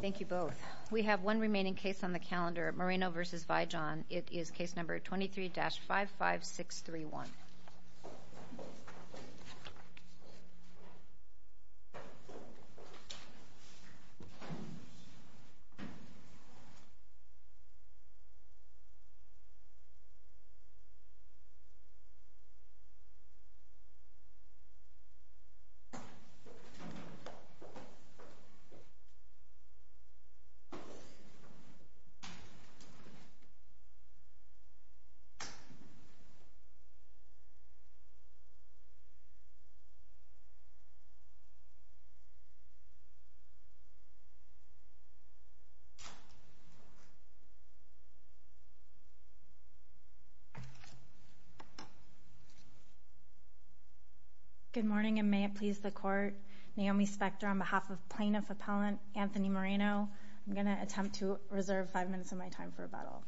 Thank you both. We have one remaining case on the calendar, Moreno v. Vi-Jon. It is case number 23-55631. Good morning and may it please the court. My name is Naomi Spector on behalf of Plaintiff Appellant Anthony Moreno. I'm going to attempt to reserve five minutes of my time for rebuttal.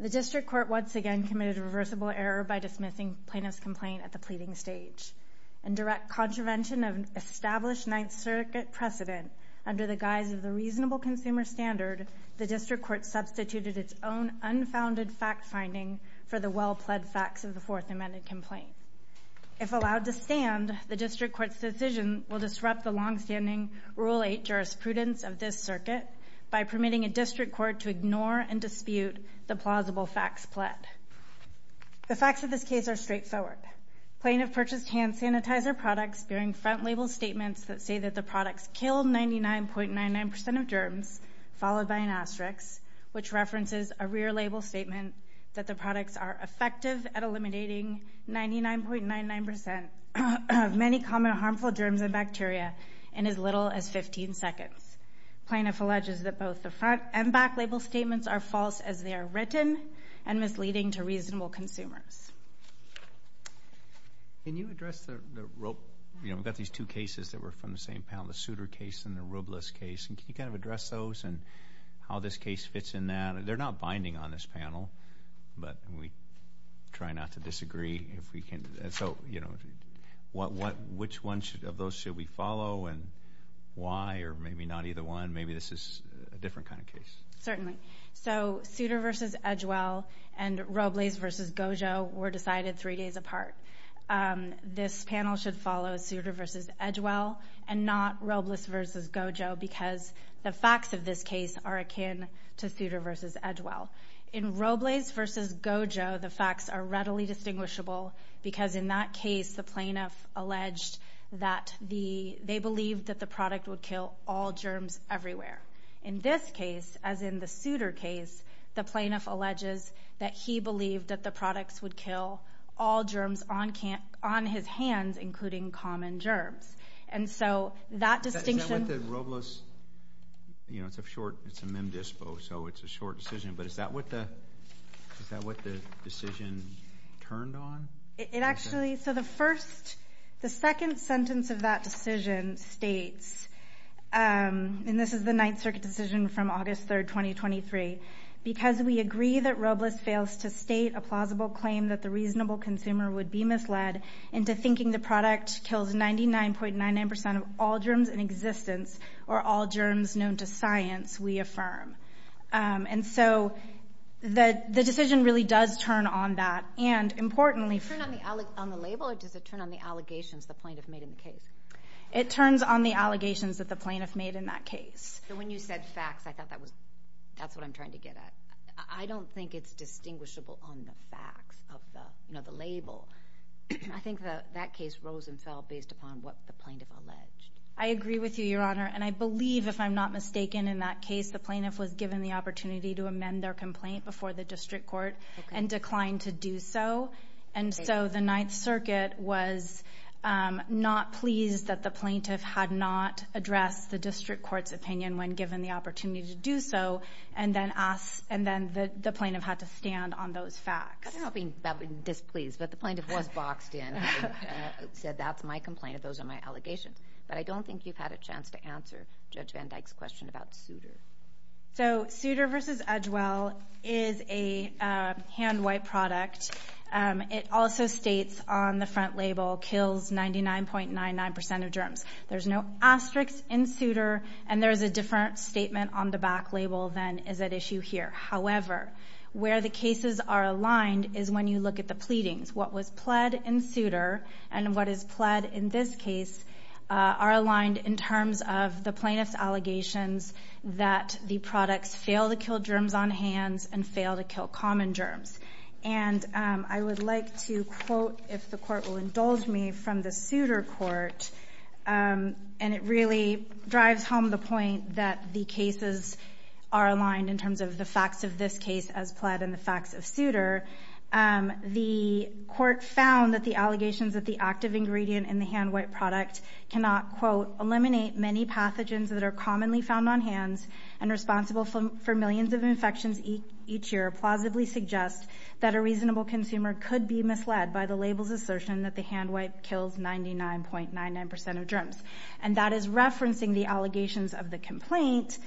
The District Court once again committed a reversible error by dismissing plaintiff's complaint at the pleading stage. In direct contravention of established Ninth Circuit precedent, under the guise of the reasonable consumer standard, the District Court substituted its own unfounded fact-finding for the well-pled facts of the Fourth Amendment complaint. If allowed to stand, the District Court's decision will disrupt the long-standing Rule 8 jurisprudence of this circuit by permitting a District Court to ignore and dispute the plausible facts-pled. The facts of this case are straightforward. Plaintiff purchased hand sanitizer products bearing front-label statements that say that the products killed 99.99% of germs, followed by an asterisk, which references a rear-label statement that the products are effective at eliminating 99.99% of many common harmful germs and bacteria in as little as 15 seconds. Plaintiff alleges that both the front- and back-label statements are false as they are written and misleading to reasonable consumers. Can you address the rope? You know, we've got these two cases that were from the same panel, the Souter case and the Rubles case. Can you kind of address those and how this case fits in that? They're not binding on this panel, but we try not to disagree if we can. So, you know, which one of those should we follow and why? Or maybe not either one. Maybe this is a different kind of case. Certainly. So Souter v. Edgewell and Rubles v. Gojo were decided three days apart. This panel should follow Souter v. Edgewell and not Rubles v. Gojo because the facts of this case are akin to Souter v. Edgewell. In Rubles v. Gojo, the facts are readily distinguishable because in that case, the plaintiff alleged that they believed that the product would kill all germs everywhere. In this case, as in the Souter case, the plaintiff alleges that he believed that the products would kill all germs on his hands, including common germs. And so that distinction— Is that what the Rubles—you know, it's a short—it's a memdisco, so it's a short decision, but is that what the decision turned on? It actually—so the first—the second sentence of that decision states, and this is the Ninth Circuit decision from August 3, 2023, because we agree that Rubles fails to state a plausible claim that the reasonable consumer would be misled into thinking the product kills 99.99% of all germs in existence or all germs known to science, we affirm. And so the decision really does turn on that. And importantly— Does it turn on the label or does it turn on the allegations the plaintiff made in the case? It turns on the allegations that the plaintiff made in that case. So when you said facts, I thought that was—that's what I'm trying to get at. I don't think it's distinguishable on the facts of the—you know, the label. I think that case rose and fell based upon what the plaintiff alleged. I agree with you, Your Honor, and I believe, if I'm not mistaken, in that case, the plaintiff was given the opportunity to amend their complaint before the district court and declined to do so. And so the Ninth Circuit was not pleased that the plaintiff had not addressed the district court's opinion when given the opportunity to do so, and then asked—and then the plaintiff had to stand on those facts. I'm not being displeased, but the plaintiff was boxed in and said, that's my complaint, those are my allegations. But I don't think you've had a chance to answer Judge Van Dyke's question about Souter. So Souter v. Edgewell is a hand wipe product. It also states on the front label, kills 99.99% of germs. There's no asterisk in Souter, and there's a different statement on the back label than is at issue here. However, where the cases are aligned is when you look at the pleadings. What was pled in Souter and what is pled in this case are aligned in terms of the plaintiff's allegations that the products fail to kill germs on hands and fail to kill common germs. And I would like to quote, if the court will indulge me, from the Souter court, and it really drives home the point that the cases are aligned in terms of the facts of this case as pled and the facts of Souter, the court found that the allegations that the active ingredient in the hand wipe product cannot, quote, eliminate many pathogens that are commonly found on hands and responsible for millions of infections each year plausibly suggest that a reasonable consumer could be misled by the label's assertion that the hand wipe kills 99.99% of germs. And that is referencing the allegations of the complaint.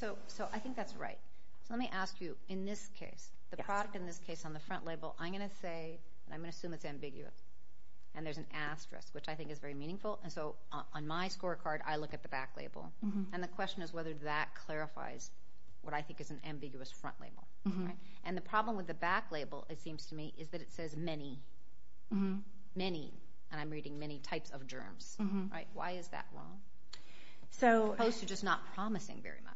So I think that's right. So let me ask you, in this case, the product in this case on the front label, I'm going to say, and I'm going to assume it's ambiguous, and there's an asterisk, which I think is very meaningful. And so on my scorecard, I look at the back label. And the question is whether that clarifies what I think is an ambiguous front label. And the problem with the back label, it seems to me, is that it says many, many, and I'm reading many types of germs. Why is that wrong, as opposed to just not promising very much?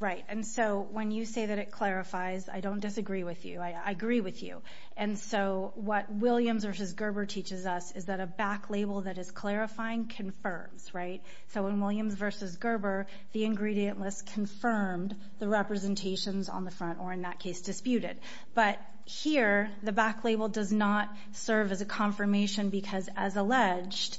Right. And so when you say that it clarifies, I don't disagree with you. I agree with you. And so what Williams v. Gerber teaches us is that a back label that is clarifying confirms, right? So in Williams v. Gerber, the ingredient list confirmed the representations on the front, or in that case disputed. But here, the back label does not serve as a confirmation because, as alleged,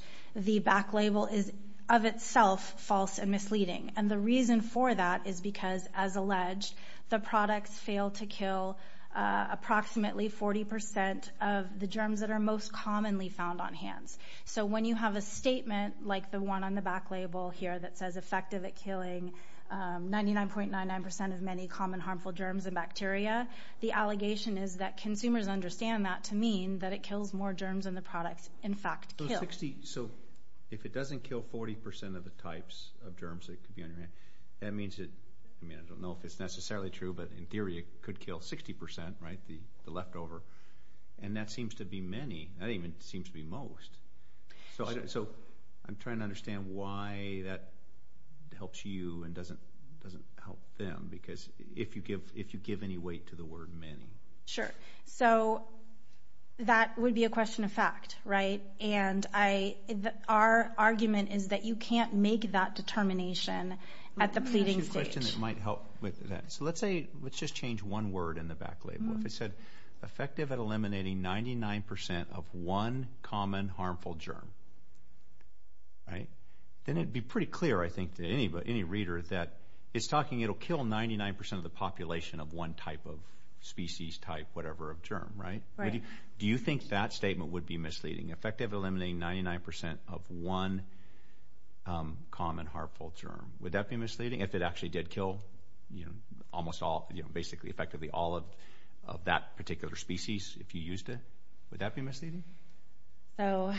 And the reason for that is because, as alleged, the products fail to kill approximately 40% of the germs that are most commonly found on hands. So when you have a statement like the one on the back label here that says effective at killing 99.99% of many common harmful germs and bacteria, the allegation is that consumers understand that to mean that it kills more germs than the products in fact kill. So if it doesn't kill 40% of the types of germs that could be on your hand, that means that, I mean, I don't know if it's necessarily true, but in theory it could kill 60%, right, the leftover, and that seems to be many. That even seems to be most. So I'm trying to understand why that helps you and doesn't help them, because if you give any weight to the word many. Sure. So that would be a question of fact, right? And our argument is that you can't make that determination at the pleading stage. Let me ask you a question that might help with that. So let's just change one word in the back label. If it said effective at eliminating 99% of one common harmful germ, right, then it would be pretty clear, I think, to any reader that it's talking it will kill 99% of the population of one type of species, type, whatever, of germ, right? Right. So do you think that statement would be misleading? Effective at eliminating 99% of one common harmful germ, would that be misleading? If it actually did kill, you know, almost all, you know, basically effectively all of that particular species, if you used it, would that be misleading? So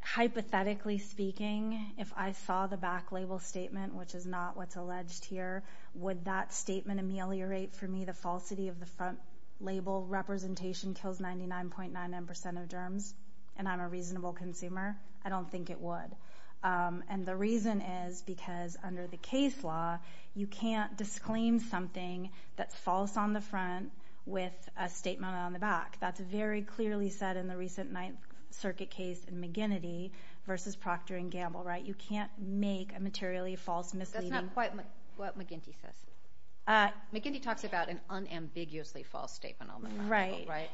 hypothetically speaking, if I saw the back label statement, which is not what's alleged here, would that statement ameliorate for me the falsity of the front label representation kills 99.99% of germs and I'm a reasonable consumer? I don't think it would. And the reason is because under the case law, you can't disclaim something that's false on the front with a statement on the back. That's very clearly said in the recent Ninth Circuit case in McGinnity versus Proctor and Gamble, right? You can't make a materially false misleading statement. That's not quite what McGinnity says. McGinnity talks about an unambiguously false statement on the back, right? Right.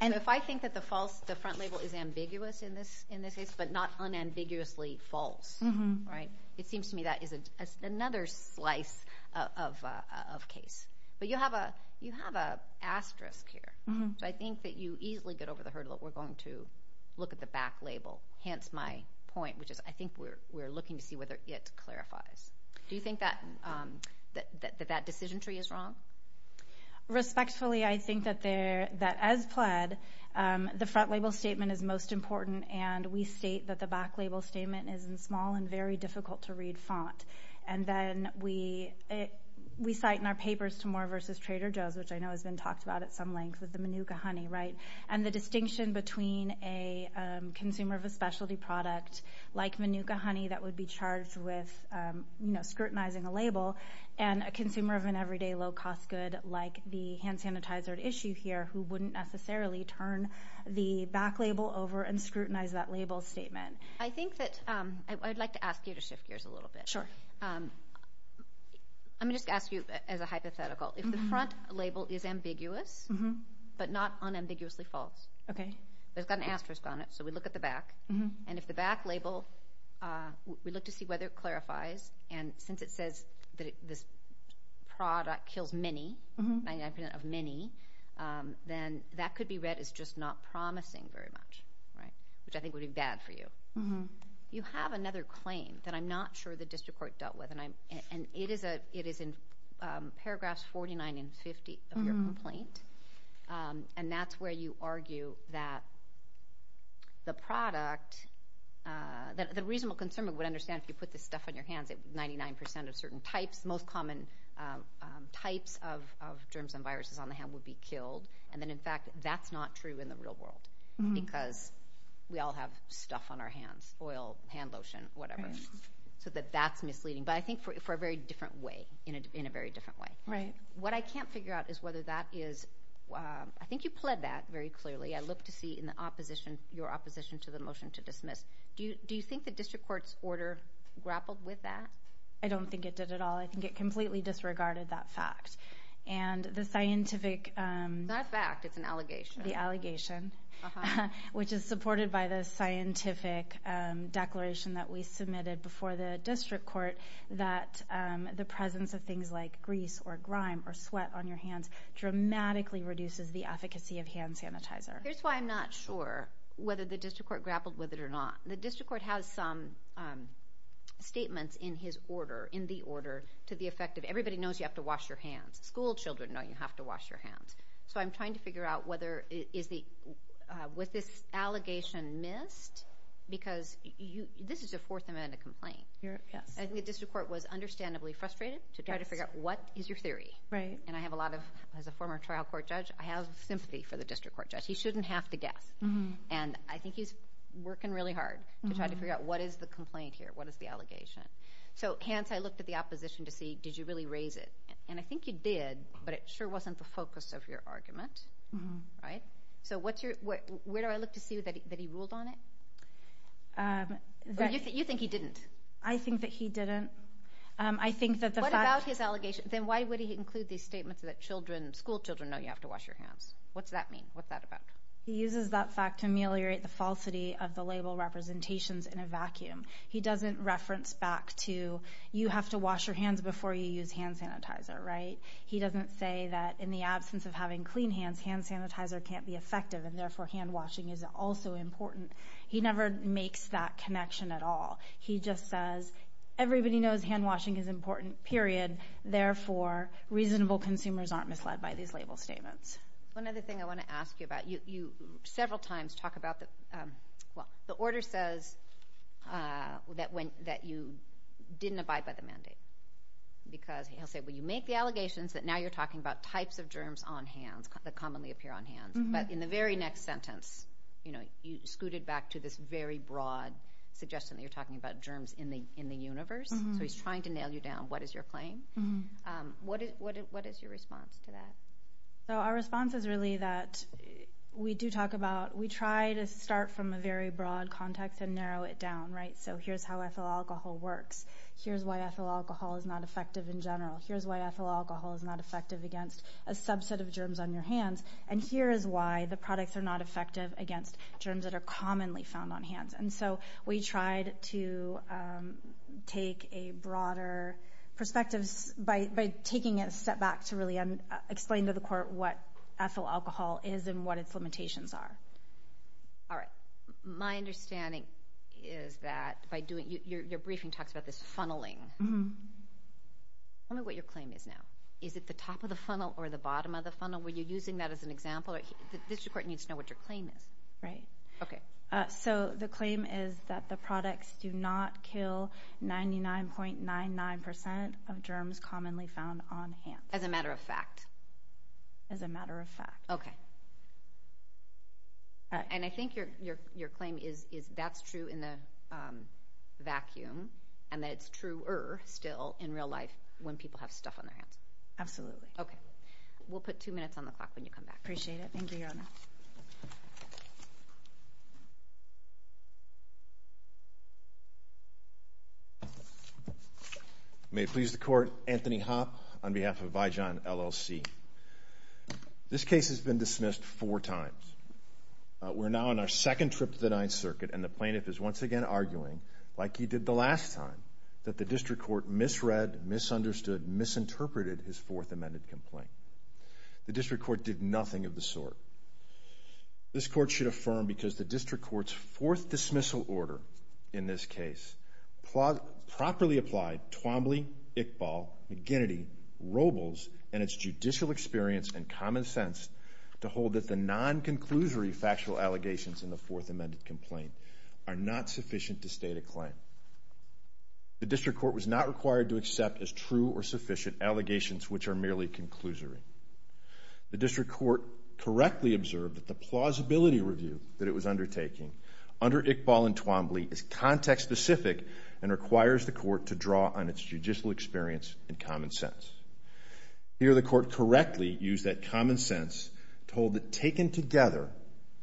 And if I think that the front label is ambiguous in this case but not unambiguously false, right, it seems to me that is another slice of case. But you have an asterisk here. So I think that you easily get over the hurdle that we're going to look at the back label, hence my point, which is I think we're looking to see whether it clarifies. Do you think that that decision tree is wrong? Respectfully, I think that as PLED, the front label statement is most important and we state that the back label statement is in small and very difficult to read font. And then we cite in our papers to Moore versus Trader Joe's, which I know has been talked about at some length, with the Manuka honey, right, and the distinction between a consumer of a specialty product like Manuka honey that would be charged with scrutinizing a label and a consumer of an everyday low-cost good like the hand sanitizer at issue here who wouldn't necessarily turn the back label over and scrutinize that label statement. I think that I'd like to ask you to shift gears a little bit. Sure. Let me just ask you as a hypothetical. If the front label is ambiguous but not unambiguously false, there's got an asterisk on it, so we look at the back, and if the back label, we look to see whether it clarifies, and since it says that this product kills many, 99% of many, then that could be read as just not promising very much, right, which I think would be bad for you. You have another claim that I'm not sure the district court dealt with, and that's where you argue that the product, the reasonable consumer would understand if you put this stuff on your hands, 99% of certain types, most common types of germs and viruses on the hand would be killed, and then, in fact, that's not true in the real world because we all have stuff on our hands, oil, hand lotion, whatever, so that that's misleading, but I think for a very different way, in a very different way. Right. What I can't figure out is whether that is, I think you pled that very clearly. I look to see in the opposition, your opposition to the motion to dismiss. Do you think the district court's order grappled with that? I don't think it did at all. I think it completely disregarded that fact, and the scientific— It's not a fact. It's an allegation. The allegation, which is supported by the scientific declaration that we submitted before the district court that the presence of things like grease or grime or sweat on your hands dramatically reduces the efficacy of hand sanitizer. Here's why I'm not sure whether the district court grappled with it or not. The district court has some statements in his order, in the order, to the effect of, everybody knows you have to wash your hands. Schoolchildren know you have to wash your hands. So I'm trying to figure out whether, was this allegation missed? Because this is a Fourth Amendment complaint. I think the district court was understandably frustrated to try to figure out what is your theory. And I have a lot of—as a former trial court judge, I have sympathy for the district court judge. He shouldn't have to guess. And I think he's working really hard to try to figure out what is the complaint here, what is the allegation. So hence, I looked at the opposition to see, did you really raise it? And I think you did, but it sure wasn't the focus of your argument. So where do I look to see that he ruled on it? You think he didn't. I think that he didn't. What about his allegation? Then why would he include these statements that children, schoolchildren know you have to wash your hands? What's that mean? What's that about? He uses that fact to ameliorate the falsity of the label representations in a vacuum. He doesn't reference back to, you have to wash your hands before you use hand sanitizer, right? He doesn't say that in the absence of having clean hands, hand sanitizer can't be effective, and therefore hand washing is also important. He never makes that connection at all. He just says, everybody knows hand washing is important, period, therefore reasonable consumers aren't misled by these label statements. One other thing I want to ask you about, you several times talk about the—well, the order says that you didn't abide by the mandate. Because he'll say, well, you make the allegations that now you're talking about types of germs on hands that commonly appear on hands. But in the very next sentence, you know, you scooted back to this very broad suggestion that you're talking about germs in the universe. So he's trying to nail you down. What is your claim? What is your response to that? So our response is really that we do talk about—we try to start from a very broad context and narrow it down, right? So here's how ethyl alcohol works. Here's why ethyl alcohol is not effective in general. Here's why ethyl alcohol is not effective against a subset of germs on your hands. And here is why the products are not effective against germs that are commonly found on hands. And so we tried to take a broader perspective by taking a step back to really explain to the court what ethyl alcohol is and what its limitations are. All right. My understanding is that by doing—your briefing talks about this funneling. Tell me what your claim is now. Is it the top of the funnel or the bottom of the funnel? Were you using that as an example? The district court needs to know what your claim is. Right. Okay. So the claim is that the products do not kill 99.99% of germs commonly found on hands. As a matter of fact? As a matter of fact. Okay. All right. And I think your claim is that's true in the vacuum and that it's truer still in real life when people have stuff on their hands. Absolutely. Okay. We'll put two minutes on the clock when you come back. Appreciate it. Thank you, Your Honor. May it please the Court, Anthony Hopp on behalf of Vigeon, LLC. This case has been dismissed four times. We're now on our second trip to the Ninth Circuit, and the plaintiff is once again arguing, like he did the last time, that the district court misread, misunderstood, misinterpreted his Fourth Amendment complaint. The district court did nothing of the sort. This Court should affirm because the district court's fourth dismissal order in this case properly applied Twombly, Iqbal, McGinnity, Robles, and its judicial experience and common sense to hold that the non-conclusory factual allegations in the Fourth Amendment complaint are not sufficient to state a claim. The district court was not required to accept as true or sufficient allegations which are merely conclusory. The district court correctly observed that the plausibility review that it was undertaking under Iqbal and Twombly is context-specific and requires the court to draw on its judicial experience and common sense. Here, the court correctly used that common sense to hold that, taken together,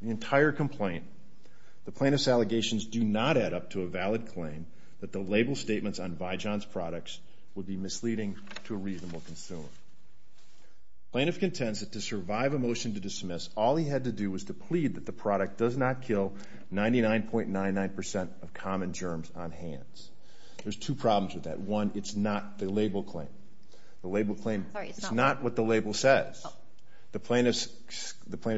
the entire complaint, the plaintiff's allegations do not add up to a valid claim that the label statements on Vigeon's products would be misleading to a reasonable consumer. The plaintiff contends that to survive a motion to dismiss, all he had to do was to plead that the product does not kill 99.99% of common germs on hands. There's two problems with that. One, it's not the label claim. The label claim is not what the label says. The plaintiff's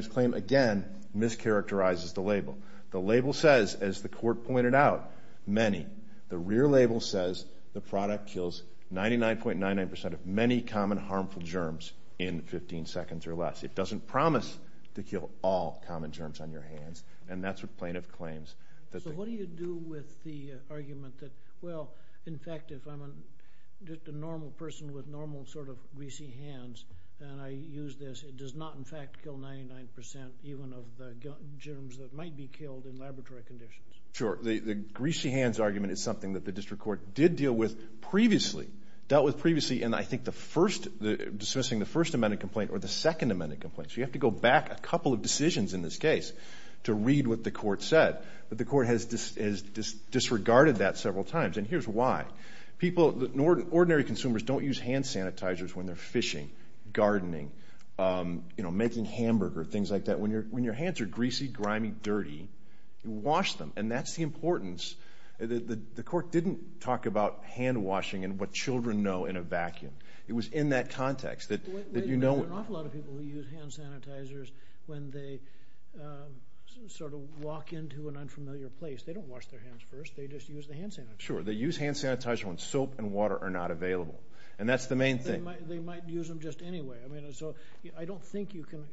claim, again, mischaracterizes the label. The label says, as the court pointed out, many. The rear label says the product kills 99.99% of many common harmful germs in 15 seconds or less. It doesn't promise to kill all common germs on your hands, and that's what plaintiff claims. So what do you do with the argument that, well, in fact, if I'm a normal person with normal sort of greasy hands and I use this, it does not, in fact, kill 99% even of the germs that might be killed in laboratory conditions? Sure. The greasy hands argument is something that the district court did deal with previously, dealt with previously, and I think dismissing the First Amendment complaint or the Second Amendment complaint. So you have to go back a couple of decisions in this case to read what the court said, but the court has disregarded that several times, and here's why. Ordinary consumers don't use hand sanitizers when they're fishing, gardening, making hamburger, things like that. When your hands are greasy, grimy, dirty, wash them, and that's the importance. The court didn't talk about hand washing and what children know in a vacuum. It was in that context that you know. There are an awful lot of people who use hand sanitizers when they sort of walk into an unfamiliar place. They don't wash their hands first. They just use the hand sanitizer. Sure. They use hand sanitizer when soap and water are not available, and that's the main thing. They might use them just anyway. I mean, so I don't think you can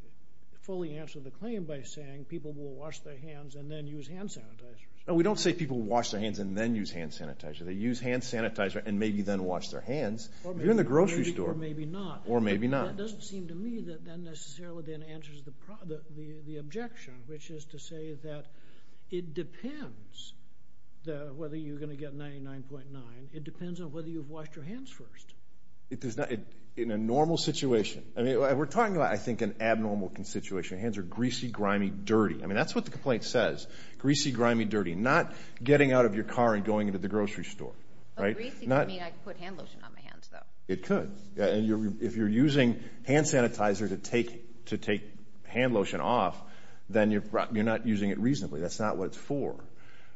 fully answer the claim by saying people will wash their hands and then use hand sanitizers. No, we don't say people wash their hands and then use hand sanitizer. They use hand sanitizer and maybe then wash their hands. If you're in the grocery store. Or maybe not. Or maybe not. That doesn't seem to me that that necessarily then answers the objection, which is to say that it depends whether you're going to get 99.9. It depends on whether you've washed your hands first. In a normal situation. I mean, we're talking about, I think, an abnormal situation. Hands are greasy, grimy, dirty. I mean, that's what the complaint says. Greasy, grimy, dirty. Not getting out of your car and going into the grocery store. Greasy would mean I could put hand lotion on my hands, though. It could. And if you're using hand sanitizer to take hand lotion off, then you're not using it reasonably. That's not what it's for.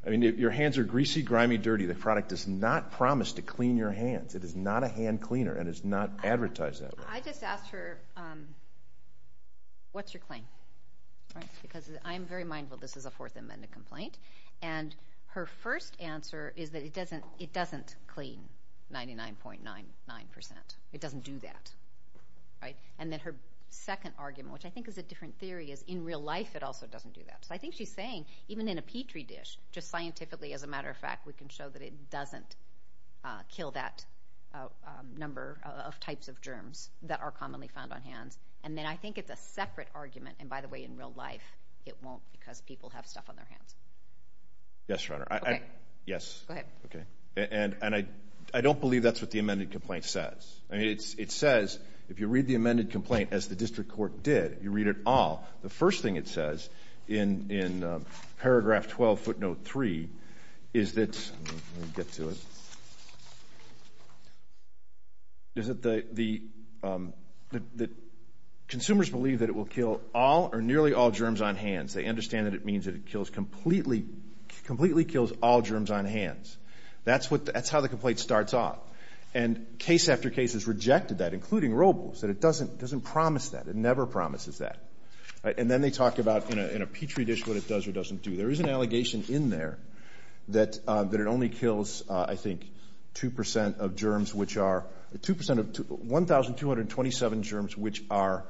I mean, your hands are greasy, grimy, dirty. The product does not promise to clean your hands. It is not a hand cleaner and it's not advertised that way. I just asked her, what's your claim? Because I'm very mindful this is a Fourth Amendment complaint. And her first answer is that it doesn't clean 99.99%. It doesn't do that. And then her second argument, which I think is a different theory, is in real life it also doesn't do that. So I think she's saying even in a Petri dish, just scientifically, as a matter of fact, we can show that it doesn't kill that number of types of germs that are commonly found on hands. And then I think it's a separate argument. And, by the way, in real life it won't because people have stuff on their hands. Yes, Your Honor. Okay. Yes. Go ahead. Okay. And I don't believe that's what the amended complaint says. I mean, it says if you read the amended complaint as the district court did, you read it all, the first thing it says in paragraph 12, footnote 3, is that consumers believe that it will kill all or nearly all germs on hands. They understand that it means that it completely kills all germs on hands. That's how the complaint starts off. And case after case has rejected that, including Robles, that it doesn't promise that. It never promises that. And then they talk about in a Petri dish what it does or doesn't do. There is an allegation in there that it only kills, I think, 2% of germs, which are 2% of 1,227 germs, which are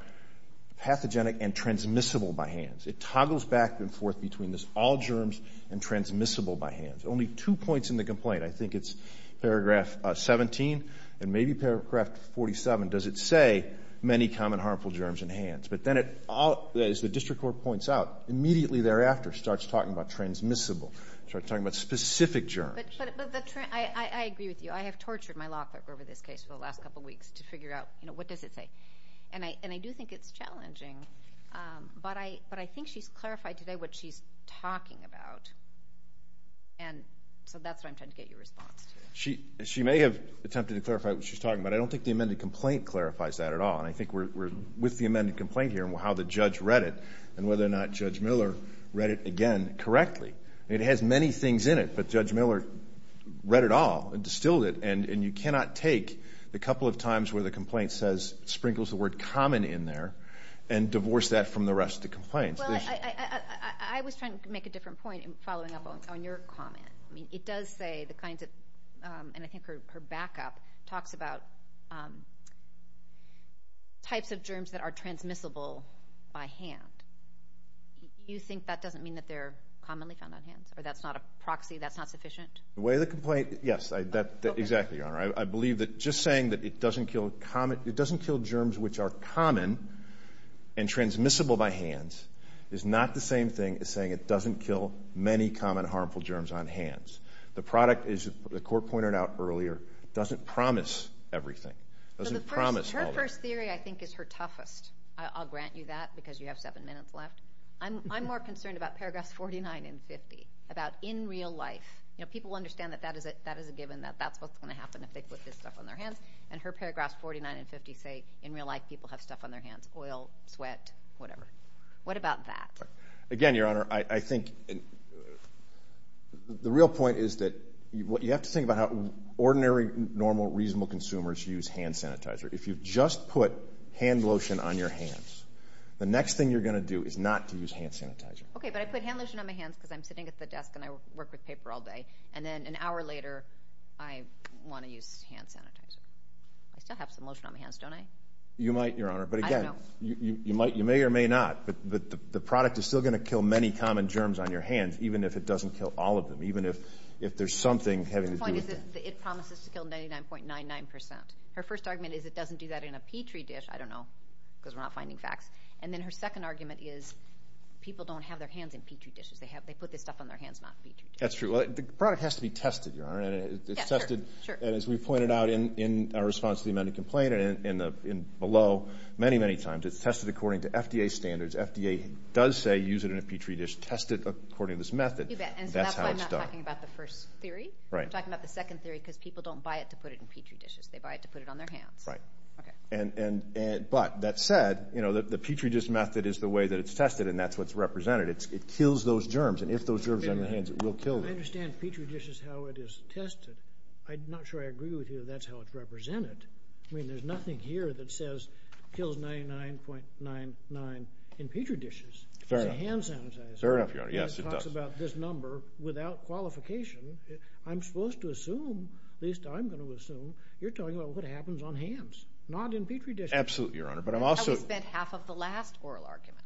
pathogenic and transmissible by hands. It toggles back and forth between this, all germs and transmissible by hands. Only two points in the complaint, I think it's paragraph 17 and maybe paragraph 47, does it say many common harmful germs in hands. But then it, as the district court points out, immediately thereafter starts talking about transmissible, starts talking about specific germs. But I agree with you. I have tortured my law clerk over this case for the last couple weeks to figure out, you know, what does it say. And I do think it's challenging. But I think she's clarified today what she's talking about. And so that's what I'm trying to get your response to. She may have attempted to clarify what she's talking about. I don't think the amended complaint clarifies that at all. And I think we're with the amended complaint here and how the judge read it and whether or not Judge Miller read it again correctly. It has many things in it, but Judge Miller read it all and distilled it. And you cannot take the couple of times where the complaint sprinkles the word common in there and divorce that from the rest of the complaints. Well, I was trying to make a different point following up on your comment. I mean, it does say the kinds of, and I think her backup talks about types of germs that are transmissible by hand. You think that doesn't mean that they're commonly found on hands or that's not a proxy, that's not sufficient? The way the complaint, yes, exactly, Your Honor. I believe that just saying that it doesn't kill germs which are common and transmissible by hands is not the same thing as saying it doesn't kill many common harmful germs on hands. The product, as the Court pointed out earlier, doesn't promise everything. Her first theory, I think, is her toughest. I'll grant you that because you have seven minutes left. I'm more concerned about paragraphs 49 and 50, about in real life. People understand that that is a given, that that's what's going to happen if they put this stuff on their hands. And her paragraphs 49 and 50 say in real life people have stuff on their hands, oil, sweat, whatever. What about that? Again, Your Honor, I think the real point is that you have to think about how ordinary, normal, reasonable consumers use hand sanitizer. If you've just put hand lotion on your hands, the next thing you're going to do is not to use hand sanitizer. Okay, but I put hand lotion on my hands because I'm sitting at the desk and I work with paper all day, and then an hour later I want to use hand sanitizer. I still have some lotion on my hands, don't I? You might, Your Honor. I don't know. You may or may not, but the product is still going to kill many common germs on your hands, even if it doesn't kill all of them, even if there's something having to do with it. The point is that it promises to kill 99.99 percent. Her first argument is it doesn't do that in a Petri dish. I don't know because we're not finding facts. And then her second argument is people don't have their hands in Petri dishes. They put this stuff on their hands, not Petri dishes. That's true. The product has to be tested, Your Honor. Yes, sure. And as we pointed out in our response to the amended complaint and below, many, many times it's tested according to FDA standards. FDA does say use it in a Petri dish. Test it according to this method. You bet. And that's how it's done. And so that's why I'm not talking about the first theory. Right. I'm talking about the second theory because people don't buy it to put it in Petri dishes. They buy it to put it on their hands. Right. Okay. But that said, the Petri dish method is the way that it's tested, and that's what's represented. It kills those germs, and if those germs are on your hands, it will kill them. I understand Petri dishes, how it is tested. I'm not sure I agree with you that that's how it's represented. I mean, there's nothing here that says kills 99.99 in Petri dishes. Fair enough. It's a hand sanitizer. Fair enough, Your Honor. Yes, it does. And it talks about this number without qualification. I'm supposed to assume, at least I'm going to assume, you're talking about what happens on hands, not in Petri dishes. Absolutely, Your Honor. But I'm also— I only spent half of the last oral argument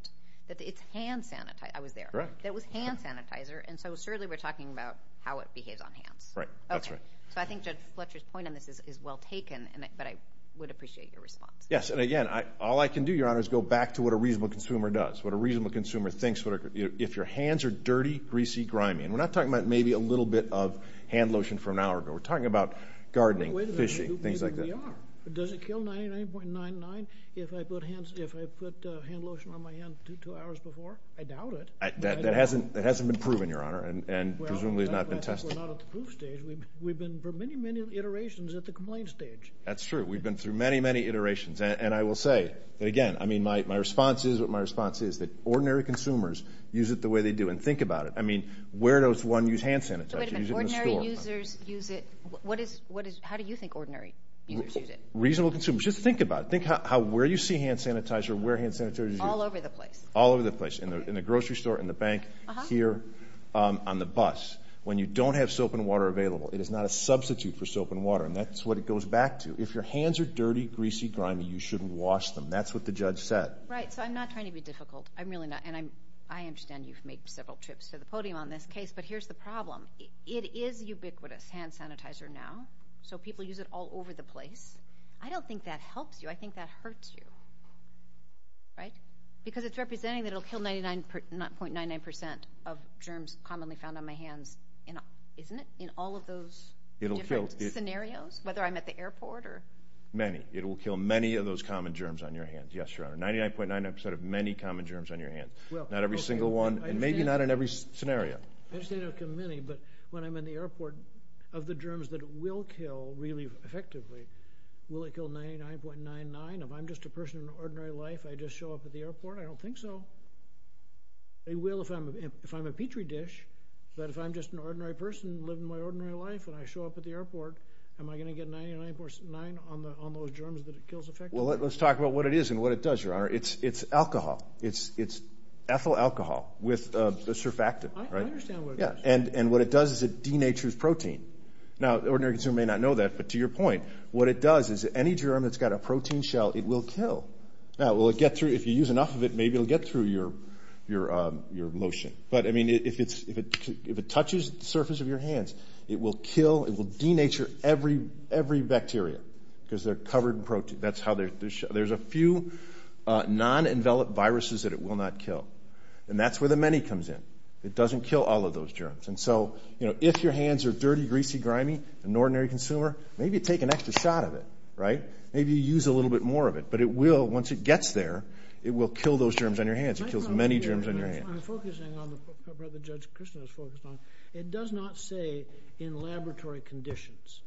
that it's hand sanitizer. I was there. Correct. That was hand sanitizer, and so certainly we're talking about how it behaves on hands. Right. That's right. Okay. So I think Judge Fletcher's point on this is well taken, but I would appreciate your response. Yes, and again, all I can do, Your Honor, is go back to what a reasonable consumer does, what a reasonable consumer thinks, if your hands are dirty, greasy, grimy. And we're not talking about maybe a little bit of hand lotion from an hour ago. We're talking about gardening, fishing, things like that. Wait a minute. Who do you think we are? Does it kill 99.99 if I put hand lotion on my hands two hours before? I doubt it. That hasn't been proven, Your Honor, and presumably has not been tested. We're not at the proof stage. We've been through many, many iterations at the complaint stage. That's true. We've been through many, many iterations. And I will say, again, I mean, my response is what my response is, that ordinary consumers use it the way they do. And think about it. I mean, where does one use hand sanitizer? Wait a minute. Ordinary users use it. How do you think ordinary users use it? Reasonable consumers. Just think about it. Think how where you see hand sanitizer, where hand sanitizer is used. All over the place. All over the place, in the grocery store, in the bank, here, on the bus. When you don't have soap and water available. It is not a substitute for soap and water. And that's what it goes back to. If your hands are dirty, greasy, grimy, you shouldn't wash them. That's what the judge said. Right. So I'm not trying to be difficult. I'm really not. And I understand you've made several trips to the podium on this case. But here's the problem. It is ubiquitous, hand sanitizer, now. So people use it all over the place. I don't think that helps you. I think that hurts you. Right? Because it's representing that it will kill 99.99% of germs commonly found on my hands. Isn't it? In all of those different scenarios? Whether I'm at the airport or... Many. It will kill many of those common germs on your hands. Yes, Your Honor. 99.99% of many common germs on your hands. Not every single one. And maybe not in every scenario. I understand it will kill many. But when I'm in the airport, of the germs that it will kill, really, effectively, will it kill 99.99%? If I'm just a person in an ordinary life, I just show up at the airport? I don't think so. It will if I'm a Petri dish. But if I'm just an ordinary person living my ordinary life and I show up at the airport, am I going to get 99.99% on those germs that it kills effectively? Well, let's talk about what it is and what it does, Your Honor. It's alcohol. It's ethyl alcohol with surfactant. I understand what it does. And what it does is it denatures protein. Now, the ordinary consumer may not know that, but to your point, what it does is any germ that's got a protein shell, it will kill. Now, will it get through? If you use enough of it, maybe it will get through your lotion. But, I mean, if it touches the surface of your hands, it will kill, it will denature every bacteria because they're covered in protein. There's a few non-enveloped viruses that it will not kill. And that's where the many comes in. It doesn't kill all of those germs. And so if your hands are dirty, greasy, grimy, an ordinary consumer, maybe you take an extra shot of it, right? Maybe you use a little bit more of it. But it will, once it gets there, it will kill those germs on your hands. It kills many germs on your hands. I'm focusing on the part that Judge Kristin has focused on. It does not say in laboratory conditions.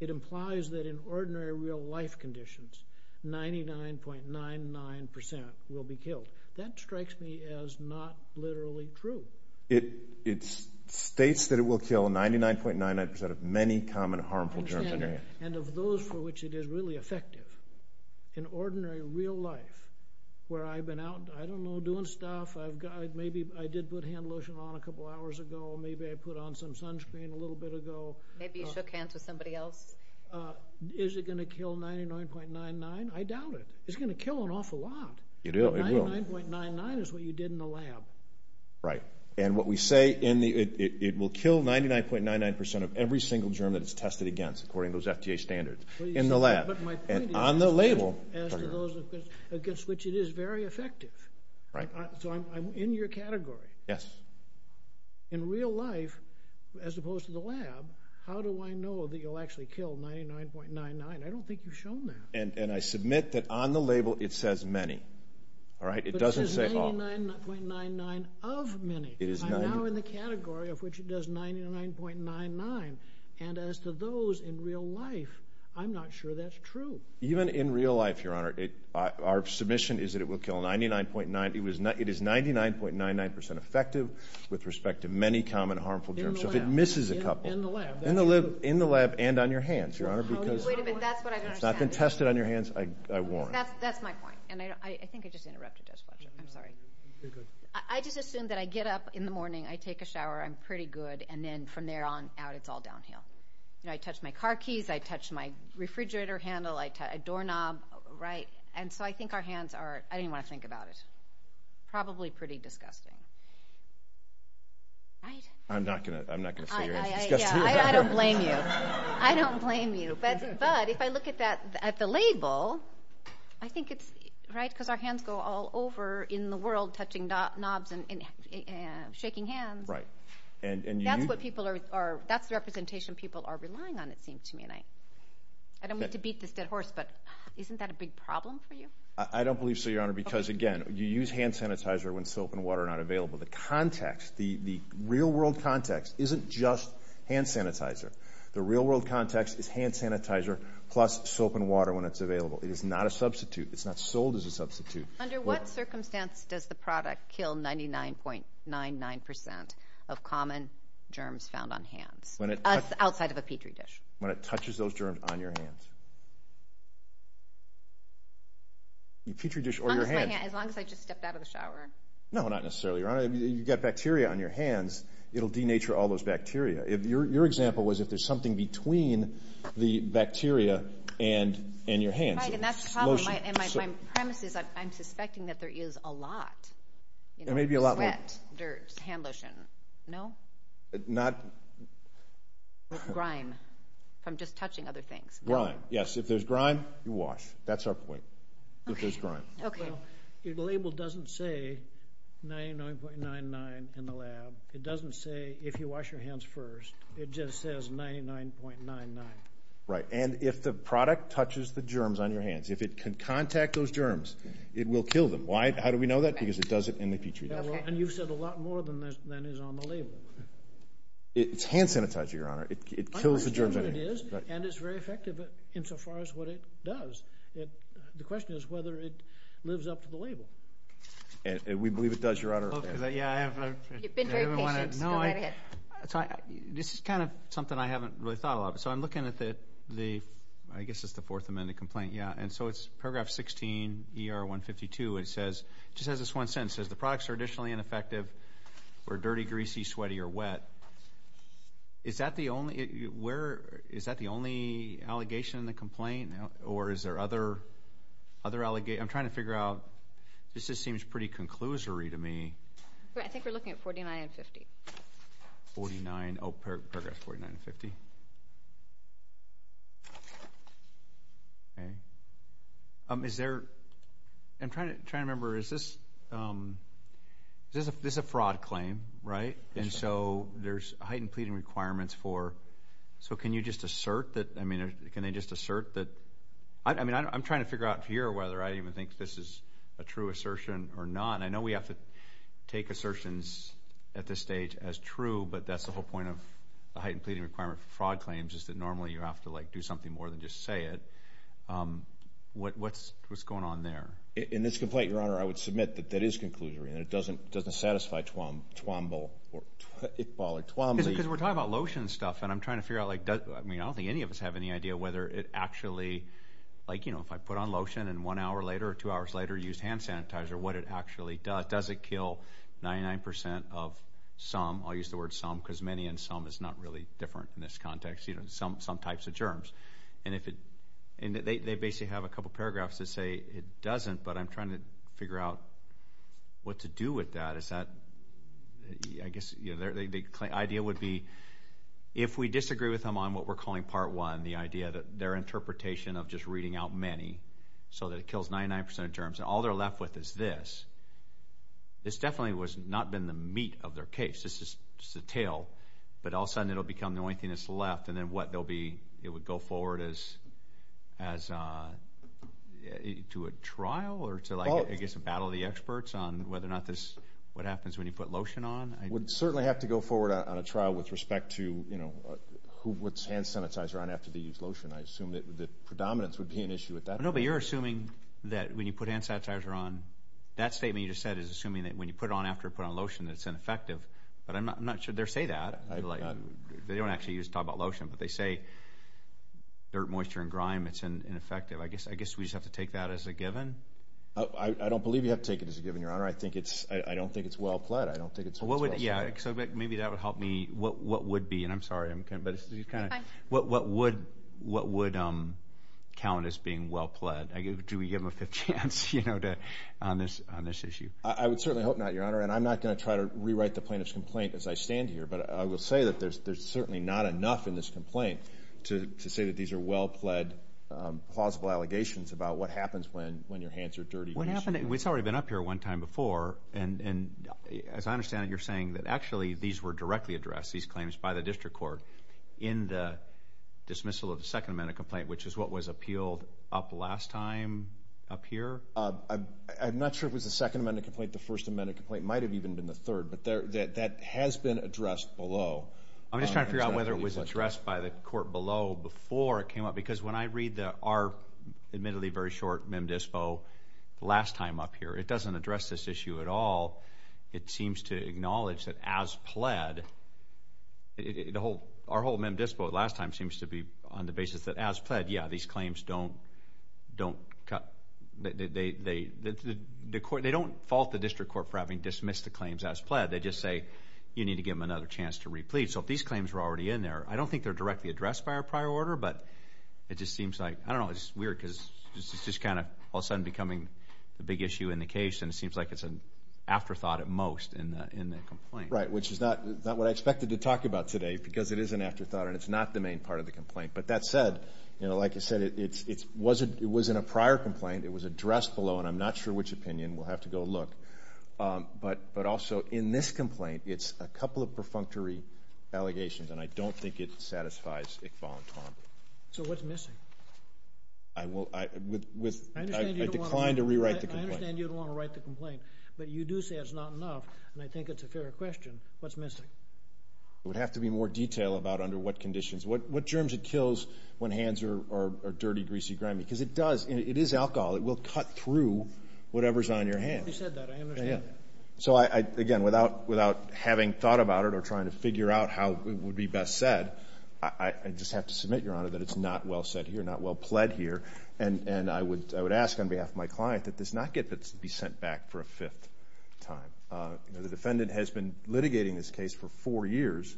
It implies that in ordinary real-life conditions, 99.99% will be killed. That strikes me as not literally true. It states that it will kill 99.99% of many common harmful germs on your hands. And of those for which it is really effective, in ordinary real life, where I've been out, I don't know, doing stuff, maybe I did put hand lotion on a couple hours ago, maybe I put on some sunscreen a little bit ago. Maybe you shook hands with somebody else. Is it going to kill 99.99? I doubt it. It's going to kill an awful lot. It will. 99.99 is what you did in the lab. Right. And what we say, it will kill 99.99% of every single germ that it's tested against, according to those FDA standards, in the lab. But my point is, as to those against which it is very effective, so I'm in your category. Yes. In real life, as opposed to the lab, how do I know that you'll actually kill 99.99? I don't think you've shown that. And I submit that on the label it says many. But it says 99.99 of many. I'm now in the category of which it does 99.99, and as to those in real life, I'm not sure that's true. Even in real life, Your Honor, our submission is that it will kill 99.9. It is 99.99% effective with respect to many common harmful germs. In the lab. So if it misses a couple. In the lab. In the lab and on your hands, Your Honor. Wait a minute, that's what I don't understand. It's not been tested on your hands, I warn you. That's my point, and I think I just interrupted Judge Fletcher. I'm sorry. You're good. I just assumed that I get up in the morning, I take a shower, I'm pretty good, and then from there on out it's all downhill. I touch my car keys, I touch my refrigerator handle, I touch a doorknob. And so I think our hands are, I didn't even want to think about it, probably pretty disgusting. I'm not going to say you're disgusting. I don't blame you. I don't blame you. But if I look at the label, I think it's, right, because our hands go all over in the world touching knobs and shaking hands. Right. That's the representation people are relying on, it seems to me. I don't mean to beat this dead horse, but isn't that a big problem for you? I don't believe so, Your Honor, because, again, you use hand sanitizer when soap and water are not available. The context, the real-world context, isn't just hand sanitizer. The real-world context is hand sanitizer plus soap and water when it's available. It is not a substitute. It's not sold as a substitute. Under what circumstance does the product kill 99.99% of common germs found on hands? Outside of a Petri dish. When it touches those germs on your hands. Petri dish or your hands. As long as I just stepped out of the shower. No, not necessarily, Your Honor. You get bacteria on your hands, it will denature all those bacteria. Your example was if there's something between the bacteria and your hands. That's a problem. My premise is I'm suspecting that there is a lot. There may be a lot more. Sweat, dirt, hand lotion. No? Not. Grime from just touching other things. Grime, yes. If there's grime, you wash. That's our point. If there's grime. Okay. The label doesn't say 99.99 in the lab. It doesn't say if you wash your hands first. It just says 99.99. Right. And if the product touches the germs on your hands, if it can contact those germs, it will kill them. How do we know that? Because it does it in the Petri dish. And you've said a lot more than is on the label. It's hand sanitizer, Your Honor. It kills the germs on your hands. And it's very effective insofar as what it does. The question is whether it lives up to the label. We believe it does, Your Honor. You've been very patient. Go right ahead. This is kind of something I haven't really thought a lot about. So I'm looking at the, I guess it's the Fourth Amendment complaint, yeah. And so it's paragraph 16, ER 152. It says, it just has this one sentence. It says, the products are additionally ineffective for dirty, greasy, sweaty, or wet. Is that the only allegation in the complaint? Or is there other allegations? I'm trying to figure out, this just seems pretty conclusory to me. I think we're looking at 49 and 50. 49, oh, paragraph 49 and 50. Is there, I'm trying to remember, is this a fraud claim, right? And so there's heightened pleading requirements for, so can you just assert that, I mean, can they just assert that? I mean, I'm trying to figure out here whether I even think this is a true assertion or not. And I know we have to take assertions at this stage as true, but that's the whole point of the heightened pleading requirement for fraud claims, is that normally you have to, like, do something more than just say it. What's going on there? In this complaint, Your Honor, I would submit that that is conclusory, and it doesn't satisfy Twombly. Because we're talking about lotion stuff, and I'm trying to figure out, like, I mean, I don't think any of us have any idea whether it actually, like, you know, if I put on lotion and one hour later or two hours later used hand sanitizer, what it actually does. Does it kill 99% of some? I'll use the word some because many and some is not really different in this context. You know, some types of germs. And they basically have a couple paragraphs that say it doesn't, but I'm trying to figure out what to do with that. I guess, you know, the idea would be if we disagree with them on what we're calling part one, the idea that their interpretation of just reading out many so that it kills 99% of germs, and all they're left with is this, this definitely has not been the meat of their case. This is just the tail. But all of a sudden it will become the only thing that's left, and then what? It would go forward as to a trial or to, like, I guess a battle of the experts on whether or not this is what happens when you put lotion on. I would certainly have to go forward on a trial with respect to, you know, who puts hand sanitizer on after they use lotion. I assume that the predominance would be an issue at that point. No, but you're assuming that when you put hand sanitizer on, that statement you just said is assuming that when you put it on after you put on lotion that it's ineffective. But I'm not sure they say that. They don't actually use it to talk about lotion, but they say dirt, moisture, and grime, it's ineffective. I guess we just have to take that as a given. I don't believe you have to take it as a given, Your Honor. I don't think it's well pled. I don't think it's what's best for you. Yeah, so maybe that would help me. What would be, and I'm sorry, but what would count as being well pled? Do we give them a fifth chance, you know, on this issue? I would certainly hope not, Your Honor, and I'm not going to try to rewrite the plaintiff's complaint as I stand here, but I will say that there's certainly not enough in this complaint to say that these are well pled plausible allegations about what happens when your hands are dirty. It's already been up here one time before, and as I understand it you're saying that actually these were directly addressed, these claims, by the district court in the dismissal of the Second Amendment complaint, which is what was appealed up last time up here? I'm not sure it was the Second Amendment complaint. The First Amendment complaint might have even been the third, but that has been addressed below. I'm just trying to figure out whether it was addressed by the court below before it came up, because when I read our admittedly very short Mem Dispo last time up here, it doesn't address this issue at all. It seems to acknowledge that as pled, our whole Mem Dispo last time seems to be on the basis that as pled, yeah, these claims don't cut, they don't fault the district court for having dismissed the claims as pled. They just say you need to give them another chance to replete. So if these claims were already in there, I don't think they're directly addressed by our prior order, but it just seems like, I don't know, it's weird because it's just kind of all of a sudden becoming a big issue in the case, and it seems like it's an afterthought at most in the complaint. Right, which is not what I expected to talk about today because it is an afterthought, and it's not the main part of the complaint. But that said, like I said, it was in a prior complaint. It was addressed below, and I'm not sure which opinion. We'll have to go look. But also in this complaint, it's a couple of perfunctory allegations, and I don't think it satisfies Iqbal and Twombly. So what's missing? I declined to rewrite the complaint. I understand you don't want to write the complaint, but you do say it's not enough, and I think it's a fair question. What's missing? It would have to be more detail about under what conditions, what germs it kills when hands are dirty, greasy, grimy, because it does, it is alcohol. It will cut through whatever's on your hand. I hope you said that. I understand that. So, again, without having thought about it or trying to figure out how it would be best said, I just have to submit, Your Honor, that it's not well said here, not well pled here. And I would ask on behalf of my client that this not be sent back for a fifth time. The defendant has been litigating this case for four years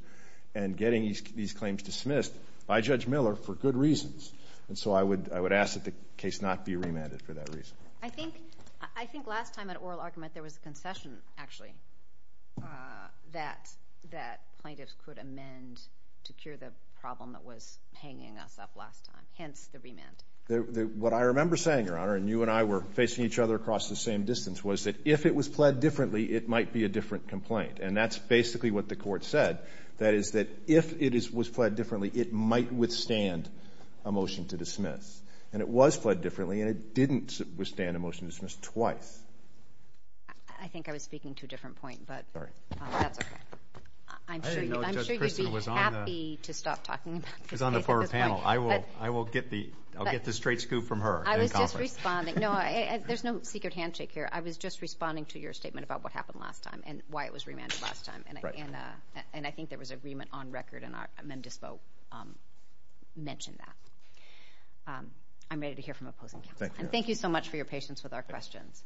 and getting these claims dismissed by Judge Miller for good reasons. And so I would ask that the case not be remanded for that reason. I think last time at oral argument there was a concession, actually, that plaintiffs could amend to cure the problem that was hanging us up last time, hence the remand. What I remember saying, Your Honor, and you and I were facing each other across the same distance, was that if it was pled differently, it might be a different complaint. And that's basically what the Court said. That is that if it was pled differently, it might withstand a motion to dismiss. And it was pled differently, and it didn't withstand a motion to dismiss twice. I think I was speaking to a different point, but that's okay. I'm sure you'd be happy to stop talking about this case at this point. I will get the straight scoop from her. I was just responding. No, there's no secret handshake here. I was just responding to your statement about what happened last time and why it was remanded last time. And I think there was agreement on record, and MemDispo mentioned that. I'm ready to hear from opposing counsel. Thank you, Your Honor. And thank you so much for your patience with our questions.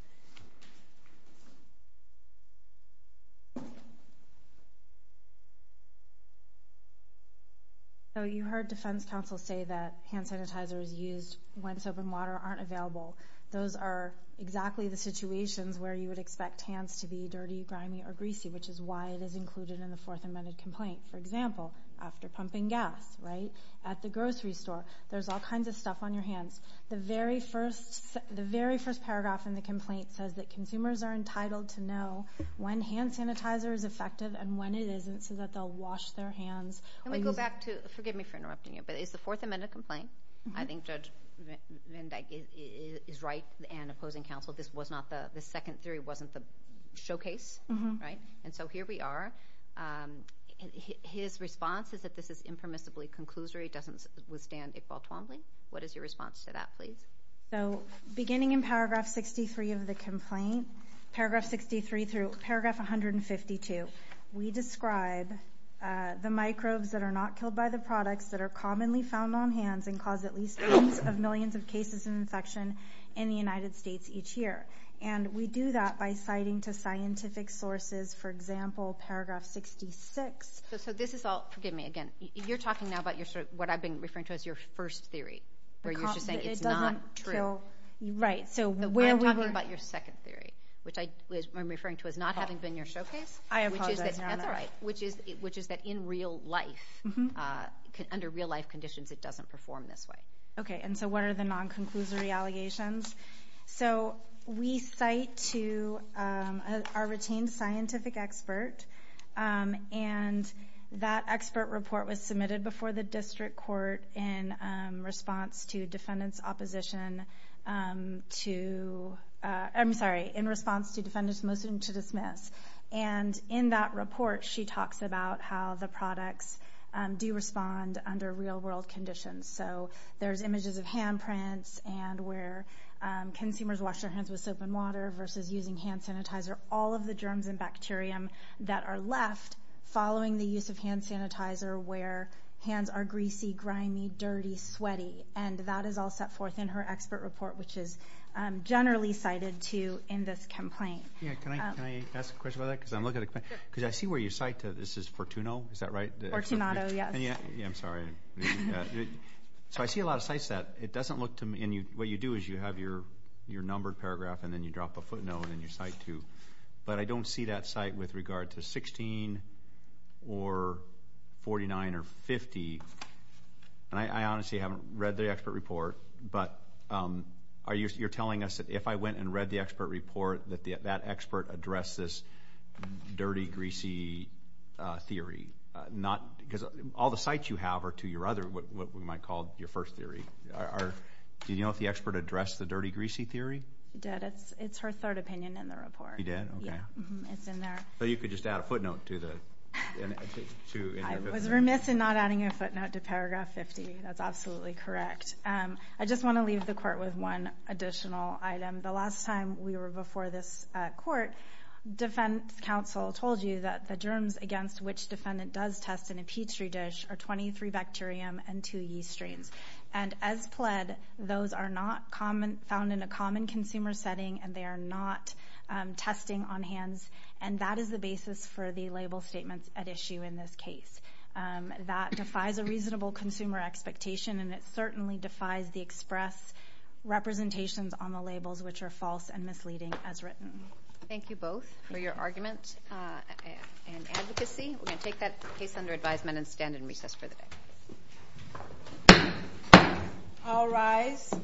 You heard defense counsel say that hand sanitizers used when soap and water aren't available. Those are exactly the situations where you would expect hands to be dirty, grimy, or greasy, which is why it is included in the Fourth Amendment complaint. For example, after pumping gas, right, at the grocery store, there's all kinds of stuff on your hands. The very first paragraph in the complaint says that consumers are entitled to know when hand sanitizer is effective and when it isn't so that they'll wash their hands. Let me go back to—forgive me for interrupting you, but it's the Fourth Amendment complaint. I think Judge Vendik is right and opposing counsel. This was not the—the second theory wasn't the showcase, right? And so here we are. His response is that this is impermissibly conclusory. It doesn't withstand a ball tumbling. What is your response to that, please? So beginning in Paragraph 63 of the complaint, Paragraph 63 through Paragraph 152, we describe the microbes that are not killed by the products that are commonly found on hands and cause at least tens of millions of cases of infection in the United States each year. And we do that by citing to scientific sources, for example, Paragraph 66. So this is all—forgive me again. You're talking now about what I've been referring to as your first theory, where you're just saying it's not true. Right. I'm talking about your second theory, which I'm referring to as not having been your showcase. I apologize. That's all right, which is that in real life, under real-life conditions, it doesn't perform this way. Okay, and so what are the non-conclusory allegations? So we cite to our retained scientific expert, and that expert report was submitted before the district court in response to defendant's opposition to— I'm sorry, in response to defendant's motion to dismiss. And in that report, she talks about how the products do respond under real-world conditions. So there's images of handprints and where consumers wash their hands with soap and water versus using hand sanitizer. All of the germs and bacterium that are left following the use of hand sanitizer where hands are greasy, grimy, dirty, sweaty. And that is all set forth in her expert report, which is generally cited to in this complaint. Can I ask a question about that? Because I'm looking at a complaint. Because I see where you cite to this is Fortuno. Is that right? Fortunato, yes. Yeah, I'm sorry. So I see a lot of sites that it doesn't look to me. And what you do is you have your numbered paragraph, and then you drop a footnote, and you cite to. But I don't see that site with regard to 16 or 49 or 50. And I honestly haven't read the expert report. But you're telling us that if I went and read the expert report, that that expert addressed this dirty, greasy theory. Because all the sites you have are to your other what we might call your first theory. Did you know if the expert addressed the dirty, greasy theory? He did. It's her third opinion in the report. He did? Okay. It's in there. So you could just add a footnote to the 50? I was remiss in not adding a footnote to paragraph 50. That's absolutely correct. I just want to leave the court with one additional item. The last time we were before this court, defense counsel told you that the germs against which defendant does test in a Petri dish are 23 bacterium and two yeast strains. And as pled, those are not found in a common consumer setting, and they are not testing on hands. And that is the basis for the label statements at issue in this case. That defies a reasonable consumer expectation, and it certainly defies the express representations on the labels, which are false and misleading as written. Thank you both for your argument and advocacy. We're going to take that case under advisement and stand in recess for the day. I'll rise.